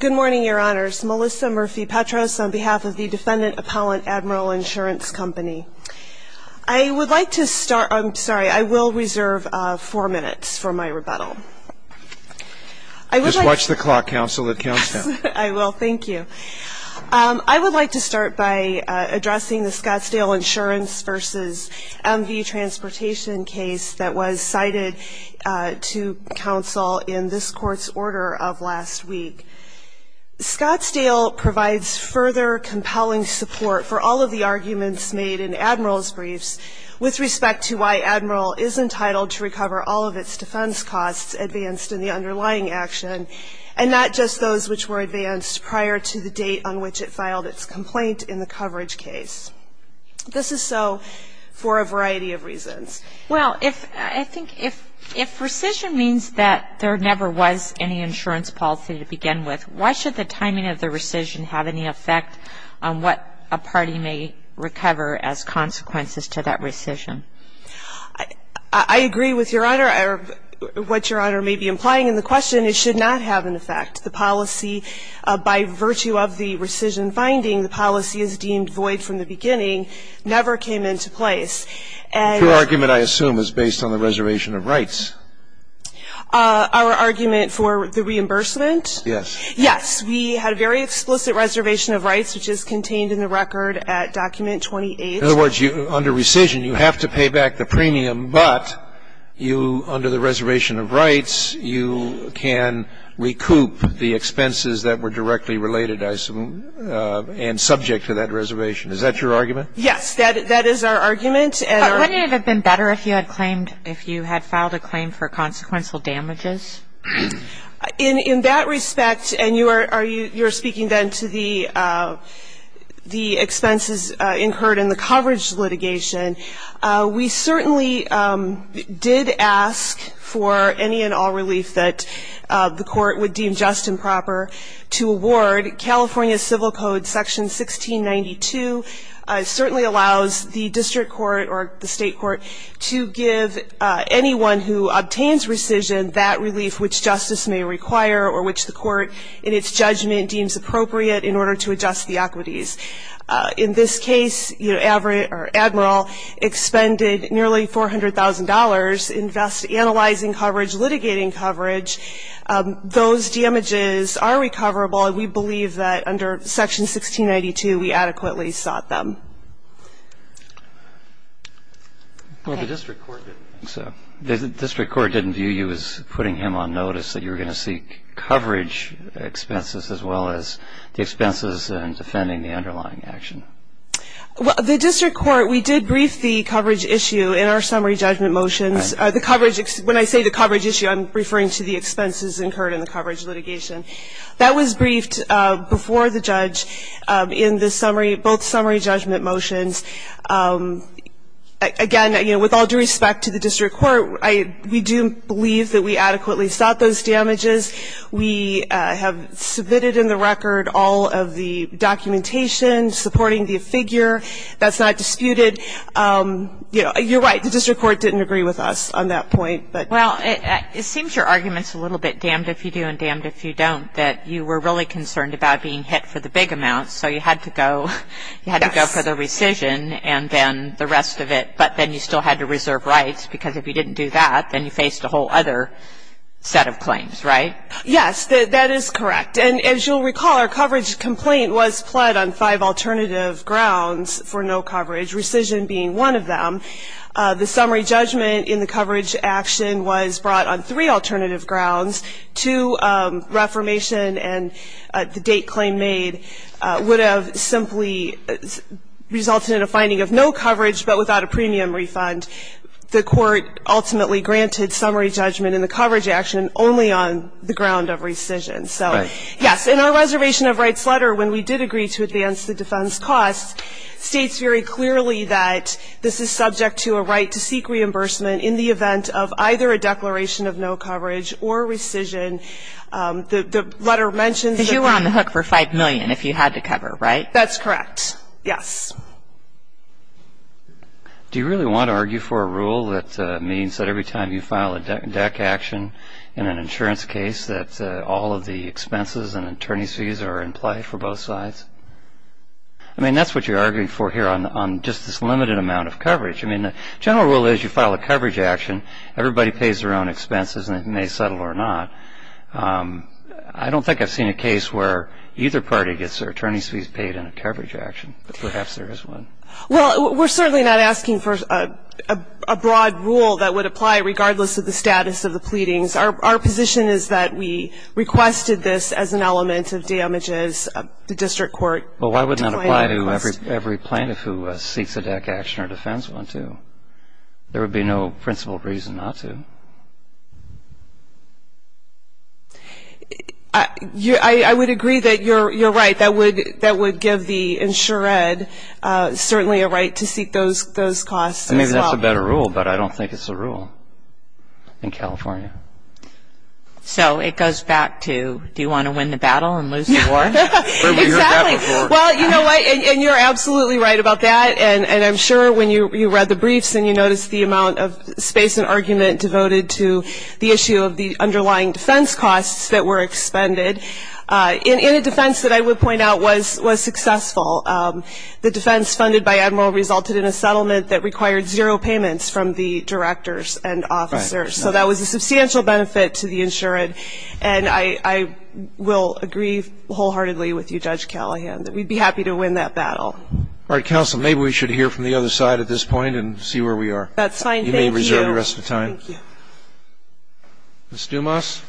Good morning, your honors. Melissa Murphy-Petros on behalf of the Defendant Appellant Admiral Insurance Company. I would like to start, I'm sorry, I will reserve four minutes for my rebuttal. Just watch the clock, counsel, it counts down. I will, thank you. I would like to start by addressing the Scottsdale Insurance v. MV Transportation case that was cited to counsel in this court's order of last week. Scottsdale provides further compelling support for all of the arguments made in Admiral's briefs with respect to why Admiral is entitled to recover all of its defense costs advanced in the underlying action, and not just those which were advanced prior to the date on which it filed This is so for a variety of reasons. Well, I think if rescission means that there never was any insurance policy to begin with, why should the timing of the rescission have any effect on what a party may recover as consequences to that rescission? I agree with your honor, what your honor may be implying. And the question is, should not have an effect. The policy, by virtue of the rescission finding, the policy is deemed void from the beginning, never came into place. Your argument, I assume, is based on the reservation of rights. Our argument for the reimbursement? Yes. Yes. We had a very explicit reservation of rights, which is contained in the record at document 28. In other words, under rescission, you have to pay back the premium. But under the reservation of rights, you can recoup the expenses that were directly related, I assume, and subject to that reservation. Is that your argument? Yes. That is our argument. But wouldn't it have been better if you had filed a claim for consequential damages? In that respect, and you're speaking then to the expenses incurred in the coverage litigation, we certainly did ask for any and all relief that the court would deem just and proper to award. California Civil Code Section 1692 certainly allows the district court or the state court to give anyone who obtains rescission that relief which justice may require or which the court, in its judgment, deems appropriate in order to adjust the equities. In this case, Admiral expended nearly $400,000 invest analyzing coverage, litigating coverage. Those damages are recoverable. And we believe that under Section 1692, we adequately sought them. Well, the district court didn't view you as putting him on notice that you were going to seek coverage expenses as well as the expenses and defending the underlying action. The district court, we did brief the coverage issue in our summary judgment motions. When I say the coverage issue, I'm referring to the expenses incurred in the coverage litigation. That was briefed before the judge in both summary judgment motions. Again, with all due respect to the district court, we do believe that we adequately sought those damages. We have submitted in the record all of the documentation supporting the figure. That's not disputed. You're right. The district court didn't agree with us on that point. Well, it seems your argument's a little bit damned if you do and damned if you don't, that you were really concerned about being hit for the big amounts. So you had to go for the rescission and then the rest of it. But then you still had to reserve rights. Because if you didn't do that, then you faced a whole other set of claims, right? Yes, that is correct. And as you'll recall, our coverage complaint was pled on five alternative grounds for no coverage, rescission being one of them. The summary judgment in the coverage action was brought on three alternative grounds, two, reformation and the date claim made would have simply resulted in a finding of no coverage, but without a premium refund. The court ultimately granted summary judgment in the coverage action only on the ground of rescission. So yes, in our reservation of rights letter, when we did agree to advance the defense costs, states very clearly that this is subject to a right to seek reimbursement in the event of either a declaration of no coverage or rescission. The letter mentions that you were on the hook for $5 million if you had to cover, right? That's correct. Yes. Do you really want to argue for a rule that means that every time you file a DEC action in an insurance case that all of the expenses and attorney's fees are in play for both sides? I mean, that's what you're arguing for here on just this limited amount of coverage. I mean, the general rule is you file a coverage action, everybody pays their own expenses, and it may settle or not. I don't think I've seen a case where either party gets their attorney's fees paid in a coverage action, but perhaps there is one. Well, we're certainly not asking for a broad rule that would apply regardless of the status of the pleadings. Our position is that we requested this as an element of damages. The district court declined our request. Well, why would not apply to every plaintiff who seeks a DEC action or defends one too? There would be no principled reason not to. I would agree that you're right. That would give the insured certainly a right to seek those costs as well. I mean, that's a better rule, but I don't think it's a rule in California. So it goes back to, do you want to win the battle and lose the war? Exactly. Well, you know what? And you're absolutely right about that. And I'm sure when you read the briefs and you notice the amount of space and argument devoted to the issue of the underlying defense costs that were expended, in a defense that I would point out was successful, the defense funded by Admiral resulted in a settlement that required zero payments from the directors and officers. So that was a substantial benefit to the insured. And I will agree wholeheartedly with you, Judge Callahan, that we'd be happy to win that battle. All right. Counsel, maybe we should hear from the other side at this point and see where we are. That's fine. Thank you. You may reserve the rest of the time. Thank you. Ms. Dumas.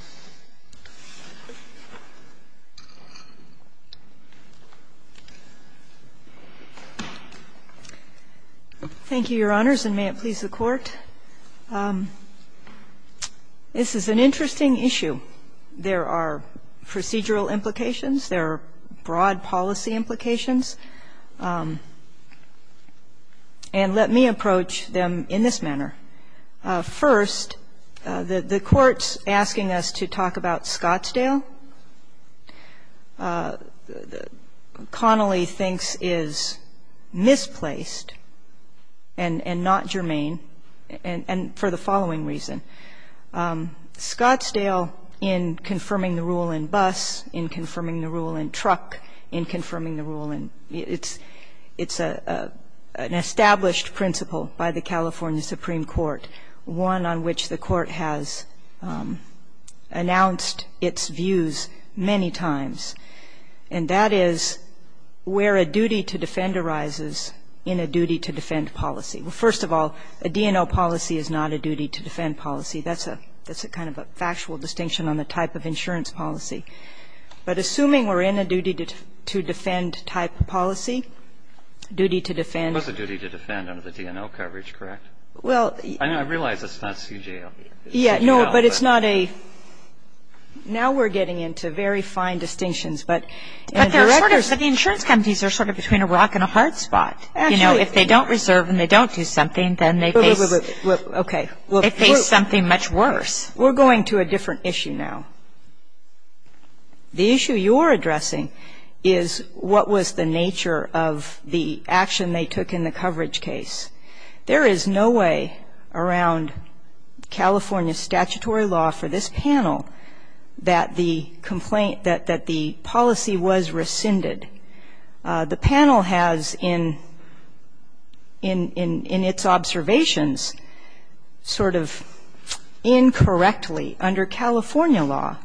Thank you, Your Honors, and may it please the Court. This is an interesting issue. There are procedural implications. There are broad policy implications. And let me approach them in this manner. First, the Court's asking us to talk about Scottsdale, Connolly thinks is misplaced and not germane, and for the following reason. Scottsdale, in confirming the rule in Buss, in confirming the rule in Truck, in confirming the rule in, it's an established principle by the California Supreme Court, one on which the Court has announced its views many times. And that is where a duty to defend arises in a duty to defend policy. First of all, a D&O policy is not a duty to defend policy. That's a kind of a factual distinction on the type of insurance policy. But assuming we're in a duty to defend type of policy, duty to defend. It was a duty to defend under the D&O coverage, correct? Well, I realize it's not CJL. Yeah, no, but it's not a, now we're getting into very fine distinctions. But the directors, the insurance companies are sort of between a rock and a hard spot. If they don't reserve and they don't do something, then they face something much worse. We're going to a different issue now. The issue you're addressing is what was the nature of the action they took in the coverage case. There is no way around California statutory law for this panel that the policy was rescinded. The panel has, in its observations, sort of incorrectly, under California law,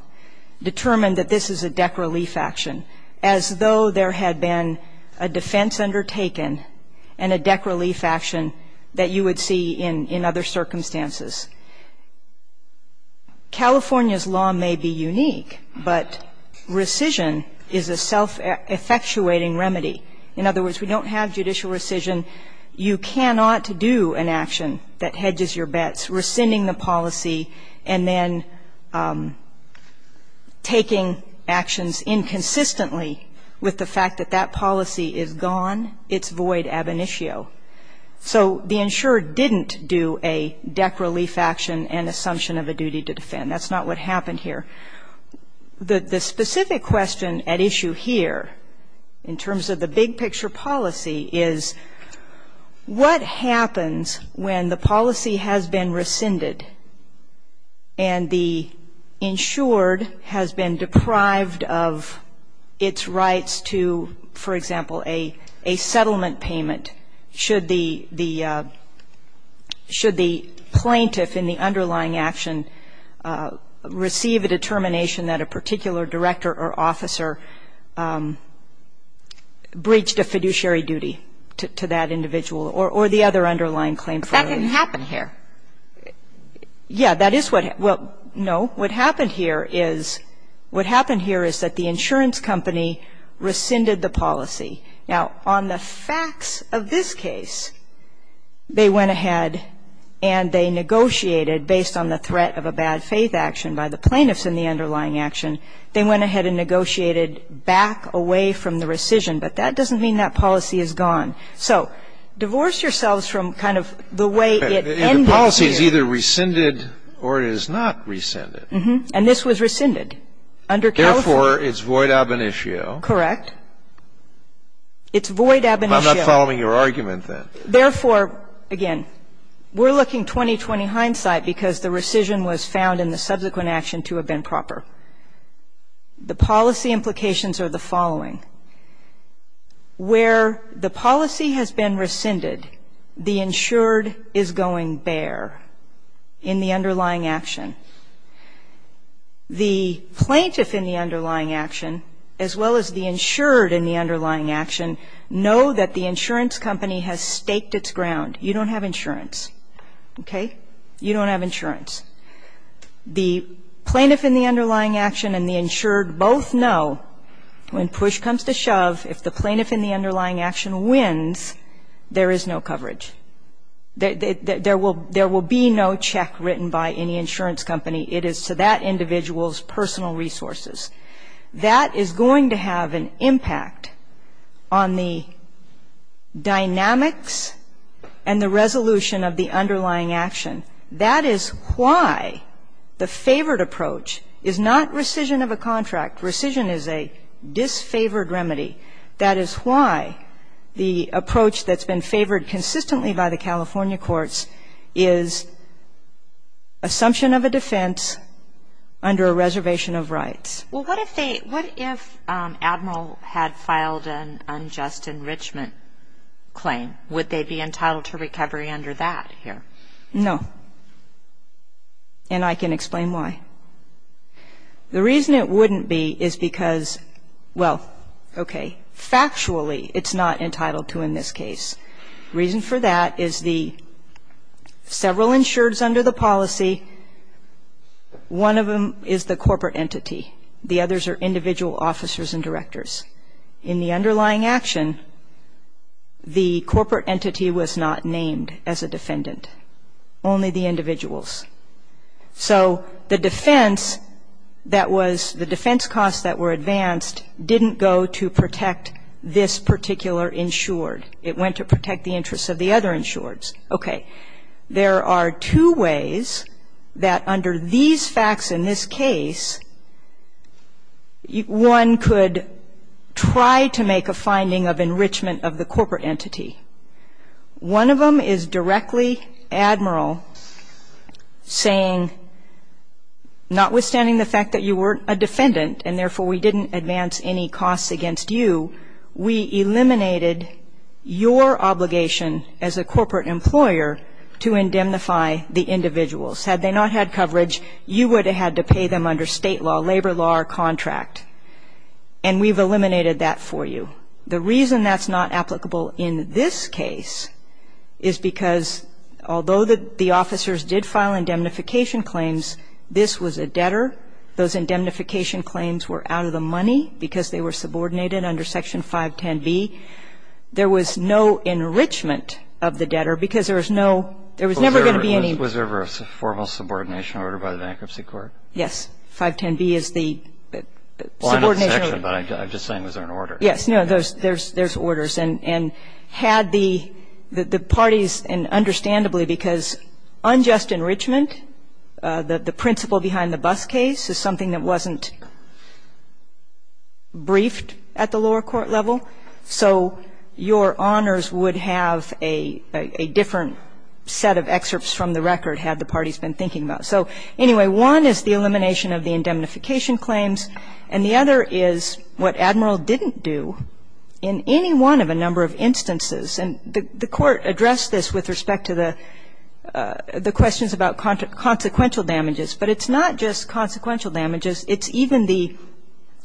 determined that this is a deck relief action, as though there had been a defense undertaken and a deck relief action that you would see in other circumstances. California's law may be unique, but rescission is a self-effectuating remedy. In other words, we don't have judicial rescission. You cannot do an action that hedges your bets, rescinding the policy, and then taking actions inconsistently with the fact that that policy is gone. It's void ab initio. So the insurer didn't do a deck relief action and assumption of a duty to defend. That's not what happened here. The specific question at issue here, in terms of the big picture policy, is what happens when the policy has been rescinded and the insured has been deprived of its rights to, for example, a settlement payment? Should the plaintiff in the underlying action receive a determination that a particular director or officer breached a fiduciary duty to that individual or the other underlying claim? But that didn't happen here. Yeah, that is what happened. No. What happened here is that the insurance company rescinded the policy. Now, on the facts of this case, they went ahead and they negotiated, based on the threat of a bad faith action by the plaintiffs in the underlying action, they went ahead and negotiated back away from the rescission. But that doesn't mean that policy is gone. So divorce yourselves from kind of the way it ended here. The policy is either rescinded or it is not rescinded. And this was rescinded under California. Therefore, it's void ab initio. Correct. It's void ab initio. I'm not following your argument, then. Therefore, again, we're looking 20-20 hindsight because the rescission was found in the subsequent action to have been proper. The policy implications are the following. Where the policy has been rescinded, the insured is going bare in the underlying action. The plaintiff in the underlying action, as well as the insured in the underlying action, know that the insurance company has staked its ground. You don't have insurance. Okay? You don't have insurance. The plaintiff in the underlying action and the insured both know when push comes to shove, if the plaintiff in the underlying action wins, there is no coverage. There will be no check written by any insurance company. It is to that individual's personal resources. That is going to have an impact on the dynamics and the resolution of the underlying action. That is why the favored approach is not rescission of a contract. Rescission is a disfavored remedy. That is why the approach that's been favored consistently by the California courts is assumption of a defense under a reservation of rights. Well, what if they, what if Admiral had filed an unjust enrichment claim? Would they be entitled to recovery under that here? No. And I can explain why. The reason it wouldn't be is because, well, okay, factually it's not entitled to in this case. Reason for that is the several insureds under the policy, one of them is the corporate entity. The others are individual officers and directors. In the underlying action, the corporate entity was not named as a defendant. Only the individuals. So the defense that was, the defense costs that were advanced didn't go to protect this particular insured. It went to protect the interests of the other insureds. Okay. There are two ways that under these facts in this case, one could try to make a finding of enrichment of the corporate entity. One of them is directly Admiral saying, notwithstanding the fact that you were a defendant and therefore we didn't advance any costs against you, we eliminated your obligation as a corporate employer to indemnify the individuals. Had they not had coverage, you would have had to pay them under state law, labor law or contract. And we've eliminated that for you. The reason that's not applicable in this case is because although the officers did file indemnification claims, this was a debtor. Those indemnification claims were out of the money because they were subordinated under Section 510B. There was no enrichment of the debtor because there was no, there was never going to be any. Was there ever a formal subordination order by the bankruptcy court? 510B is the subordination order. Well, I'm not the section, but I'm just saying was there an order? Yes. No, there's orders. And had the parties, and understandably because unjust enrichment, the principle behind the bus case is something that wasn't briefed at the lower court level. So your honors would have a different set of excerpts from the record had the parties been thinking about it. So anyway, one is the elimination of the indemnification claims, and the other is what Admiral didn't do in any one of a number of instances. And the court addressed this with respect to the questions about consequential damages, but it's not just consequential damages, it's even the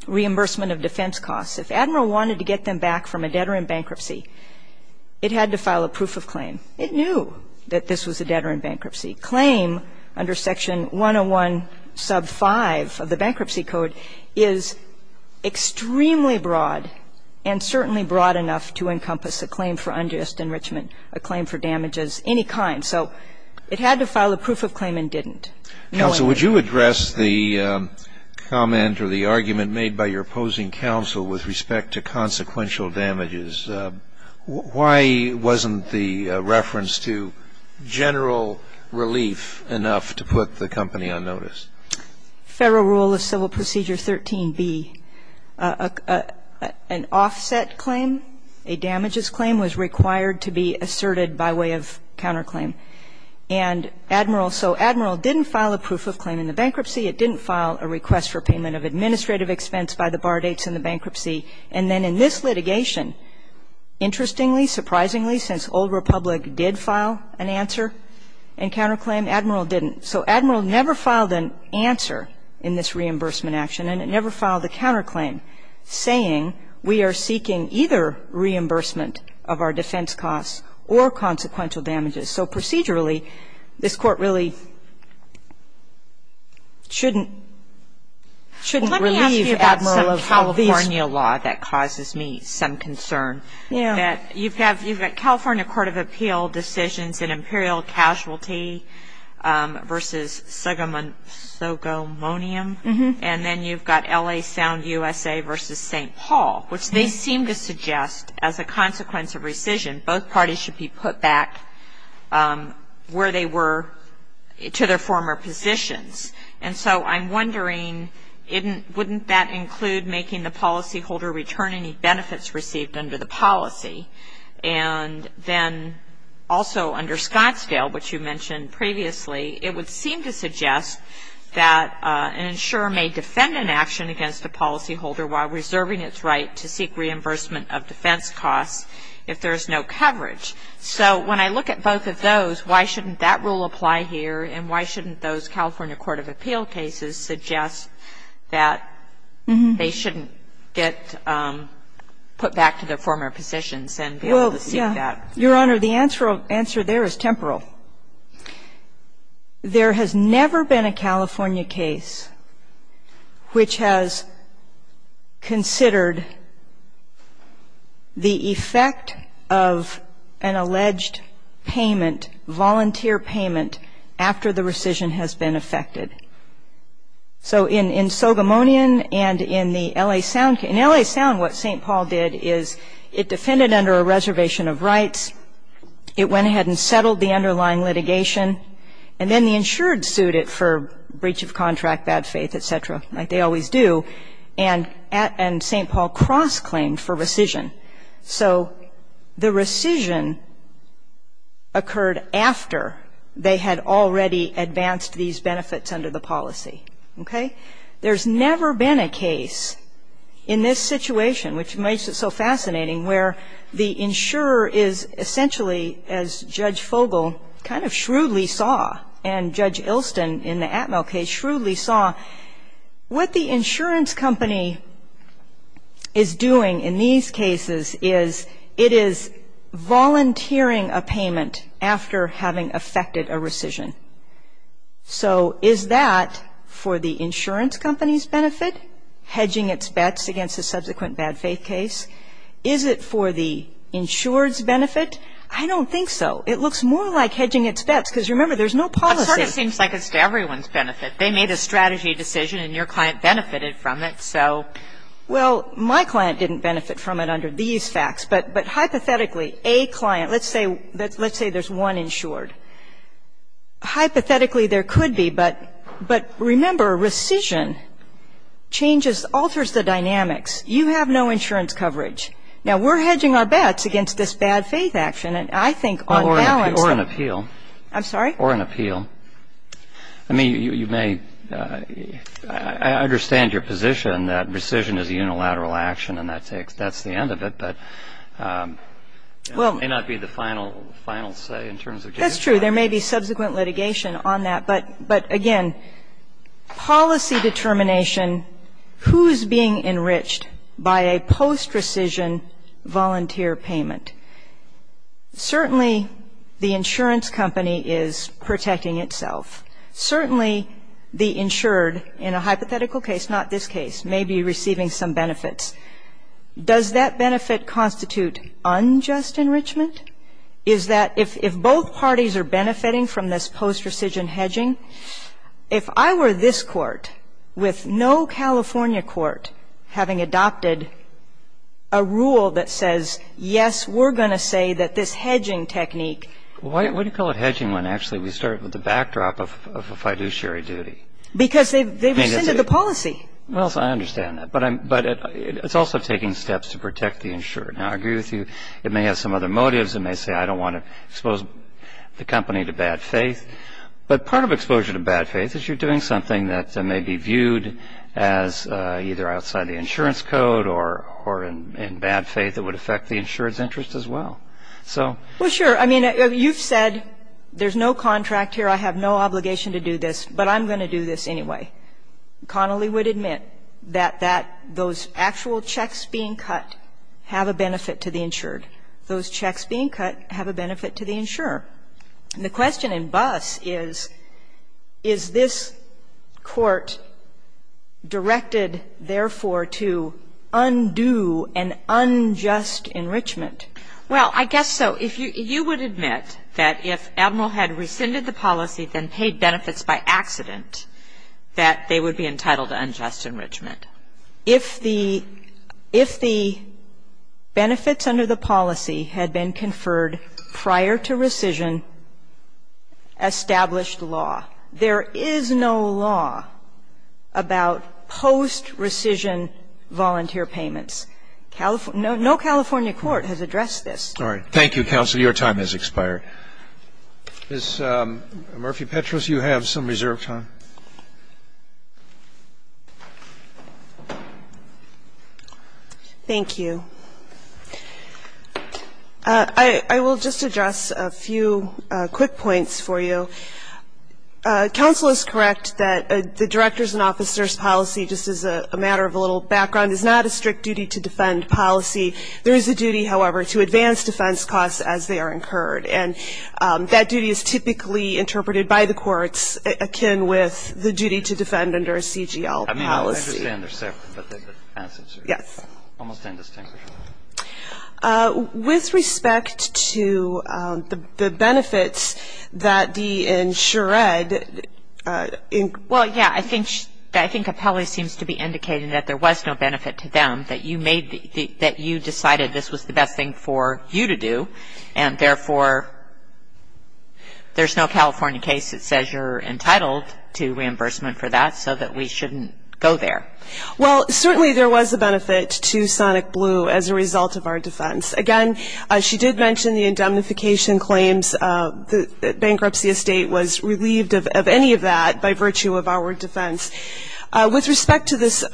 reimbursement of defense costs. If Admiral wanted to get them back from a debtor in bankruptcy, it had to file a proof of claim. It knew that this was a debtor in bankruptcy. Claim under Section 101 sub 5 of the bankruptcy code is extremely broad and certainly broad enough to encompass a claim for unjust enrichment, a claim for damages, any kind. So it had to file a proof of claim and didn't. No one did. Counsel, would you address the comment or the argument made by your opposing counsel with respect to consequential damages? Why wasn't the reference to general relief enough to put the company on notice? Federal Rule of Civil Procedure 13b, an offset claim, a damages claim was required to be asserted by way of counterclaim. And Admiral, so Admiral didn't file a proof of claim in the bankruptcy. It didn't file a request for payment of administrative expense by the bar dates in the bankruptcy. And then in this litigation, interestingly, surprisingly, since Old Republic did file an answer and counterclaim, Admiral didn't. So Admiral never filed an answer in this reimbursement action and it never filed a counterclaim saying we are seeking either reimbursement of our defense costs or consequential damages. So procedurally, this court really shouldn't relieve Admiral of all these. Let me ask you about some California law that causes me some concern. You've got California Court of Appeal decisions in Imperial Casualty versus Sogomonium and then you've got L.A. Sound USA versus St. Paul, which they seem to suggest as a consequence of rescission, both parties should be put back where they were to their former positions. And so I'm wondering, wouldn't that include making the policyholder return any benefits received under the policy? And then also under Scottsdale, which you mentioned previously, it would seem to suggest that an insurer may defend an action against a policyholder while preserving its right to seek reimbursement of defense costs if there is no coverage. So when I look at both of those, why shouldn't that rule apply here and why shouldn't those California Court of Appeal cases suggest that they shouldn't get put back to their former positions and be able to seek that? Your Honor, the answer there is temporal. There has never been a California case which has considered the effect of an alleged payment, volunteer payment, after the rescission has been effected. So in Sogomonium and in the L.A. Sound case, in L.A. Sound what St. Paul did is it defended under a reservation of rights, it went ahead and settled the underlying litigation, and then the insured sued it for breach of contract, bad faith, et cetera, like they always do, and St. Paul cross-claimed for rescission. So the rescission occurred after they had already advanced these benefits under the policy. Okay? There has never been a case in this situation, which makes it so fascinating, where the insurer is essentially, as Judge Fogel kind of shrewdly saw, and Judge Ilston in the Atmel case shrewdly saw, what the insurance company is doing in these cases is it is volunteering a payment after having effected a rescission. So is that for the insurance company's benefit, hedging its bets against a subsequent bad faith case? Is it for the insured's benefit? I don't think so. It looks more like hedging its bets, because remember, there's no policy. But it sort of seems like it's to everyone's benefit. They made a strategy decision and your client benefited from it, so. Well, my client didn't benefit from it under these facts, but hypothetically a client, let's say there's one insured. Hypothetically there could be, but remember rescission changes, alters the dynamics. You have no insurance coverage. Now, we're hedging our bets against this bad faith action, and I think on balance that. Or an appeal. I'm sorry? Or an appeal. I mean, you may, I understand your position that rescission is a unilateral action and that's the end of it, but it may not be the final say in terms of judicial action. That's true. There may be subsequent litigation on that. But, again, policy determination, who's being enriched by a post rescission volunteer payment? Certainly the insurance company is protecting itself. Certainly the insured, in a hypothetical case, not this case, may be receiving some benefits. Does that benefit constitute unjust enrichment? What's important is that if both parties are benefiting from this post rescission hedging, if I were this Court with no California court having adopted a rule that says, yes, we're going to say that this hedging technique. Why do you call it hedging when actually we start with the backdrop of a fiduciary duty? Because they rescinded the policy. Yes, I understand that. But it's also taking steps to protect the insured. Now, I agree with you. It may have some other motives. It may say, I don't want to expose the company to bad faith. But part of exposure to bad faith is you're doing something that may be viewed as either outside the insurance code or in bad faith that would affect the insured's interest as well. So. Well, sure. I mean, you've said there's no contract here. I have no obligation to do this, but I'm going to do this anyway. Connolly would admit that that those actual checks being cut have a benefit to the insured. Those checks being cut have a benefit to the insurer. And the question in Buss is, is this Court directed, therefore, to undo an unjust enrichment? Well, I guess so. If you would admit that if Admiral had rescinded the policy, then paid benefits by accident, that they would be entitled to unjust enrichment. If the benefits under the policy had been conferred prior to rescission, established law. There is no law about post-rescission volunteer payments. No California court has addressed this. All right. Thank you, counsel. Your time has expired. Ms. Murphy-Petros, you have some reserved time. Thank you. I will just address a few quick points for you. Counsel is correct that the director's and officer's policy, just as a matter of a little background, is not a strict duty to defend policy. There is a duty, however, to advance defense costs as they are incurred. And that duty is typically interpreted by the courts akin with the duty to defend under a CGL policy. I mean, I understand they're separate, but the assets are different. Yes. Almost indistinguishable. With respect to the benefits that the insured. Well, yeah. I think Apelli seems to be indicating that there was no benefit to them, that you decided this was the best thing for you to do. And, therefore, there's no California case that says you're entitled to reimbursement for that so that we shouldn't go there. Well, certainly there was a benefit to Sonic Blue as a result of our defense. Again, she did mention the indemnification claims. The bankruptcy estate was relieved of any of that by virtue of our defense. With respect to this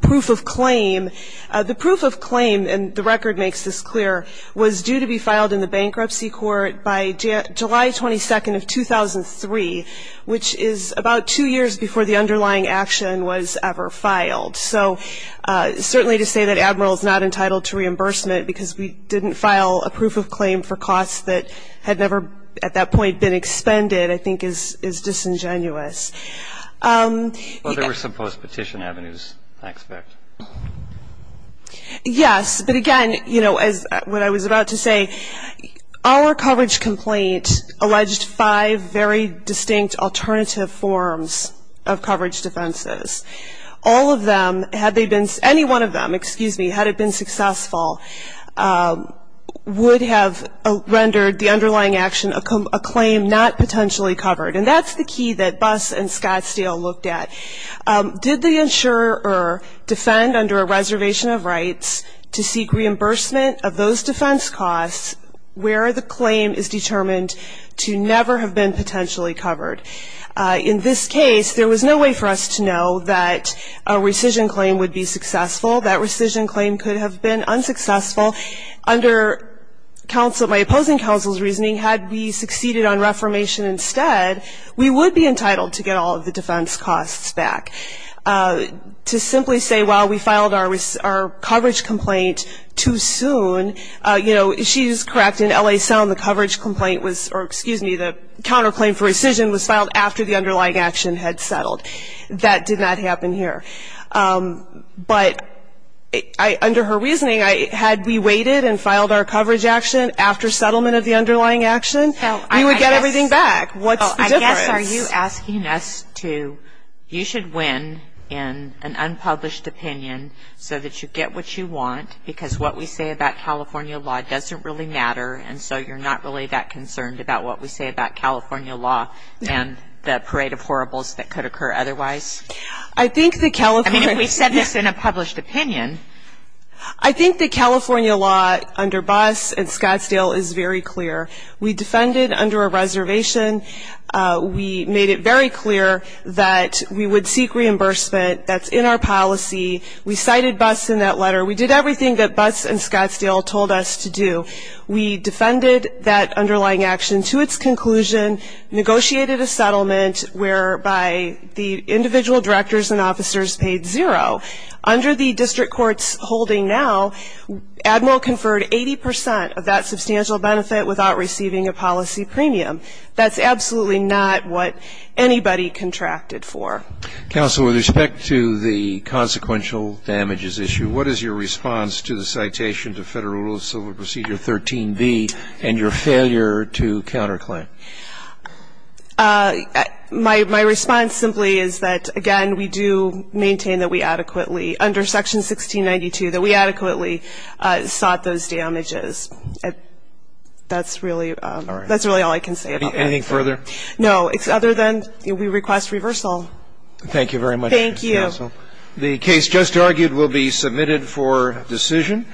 proof of claim, the proof of claim, and the record makes this clear, was due to be filed in the bankruptcy court by July 22nd of 2003, which is about two years before the underlying action was ever filed. So certainly to say that Admiral is not entitled to reimbursement because we didn't file a proof of claim for costs that had never at that point been expended I think is disingenuous. Well, there were some post-petition avenues, I expect. Yes. But, again, you know, as what I was about to say, our coverage complaint alleged five very distinct alternative forms of coverage defenses. All of them, had they been, any one of them, excuse me, had it been successful, would have rendered the underlying action a claim not potentially covered. And that's the key that Buss and Scottsdale looked at. Did they insure or defend under a reservation of rights to seek reimbursement of those defense costs where the claim is determined to never have been potentially covered? In this case, there was no way for us to know that a rescission claim would be successful. That rescission claim could have been unsuccessful. Under my opposing counsel's reasoning, had we succeeded on reformation instead, we would be entitled to get all of the defense costs back. To simply say, well, we filed our coverage complaint too soon, you know, she is correct. In L.A. Sound, the coverage complaint was, or excuse me, the counterclaim for rescission was filed after the underlying action had settled. That did not happen here. But under her reasoning, had we waited and filed our coverage action after settlement of the underlying action, we would get everything back. What's the difference? Well, I guess are you asking us to, you should win in an unpublished opinion so that you get what you want because what we say about California law doesn't really matter and so you're not really that concerned about what we say about California law and the parade of horribles that could occur otherwise? I think the California I mean, if we said this in a published opinion I think the California law under Buss and Scottsdale is very clear. We defended under a reservation. We made it very clear that we would seek reimbursement. That's in our policy. We cited Buss in that letter. We did everything that Buss and Scottsdale told us to do. We defended that underlying action to its conclusion, negotiated a settlement whereby the individual directors and officers paid zero. Under the district court's holding now, Admiral conferred 80 percent of that substantial benefit without receiving a policy premium. That's absolutely not what anybody contracted for. Counsel, with respect to the consequential damages issue, what is your response to the citation to Federal Rules of Civil Procedure 13b and your failure to counterclaim? My response simply is that, again, we do maintain that we adequately under Section 1692 that we adequately sought those damages. That's really all I can say about that. Anything further? No, other than we request reversal. Thank you very much, Counsel. Thank you. The case just argued will be submitted for decision.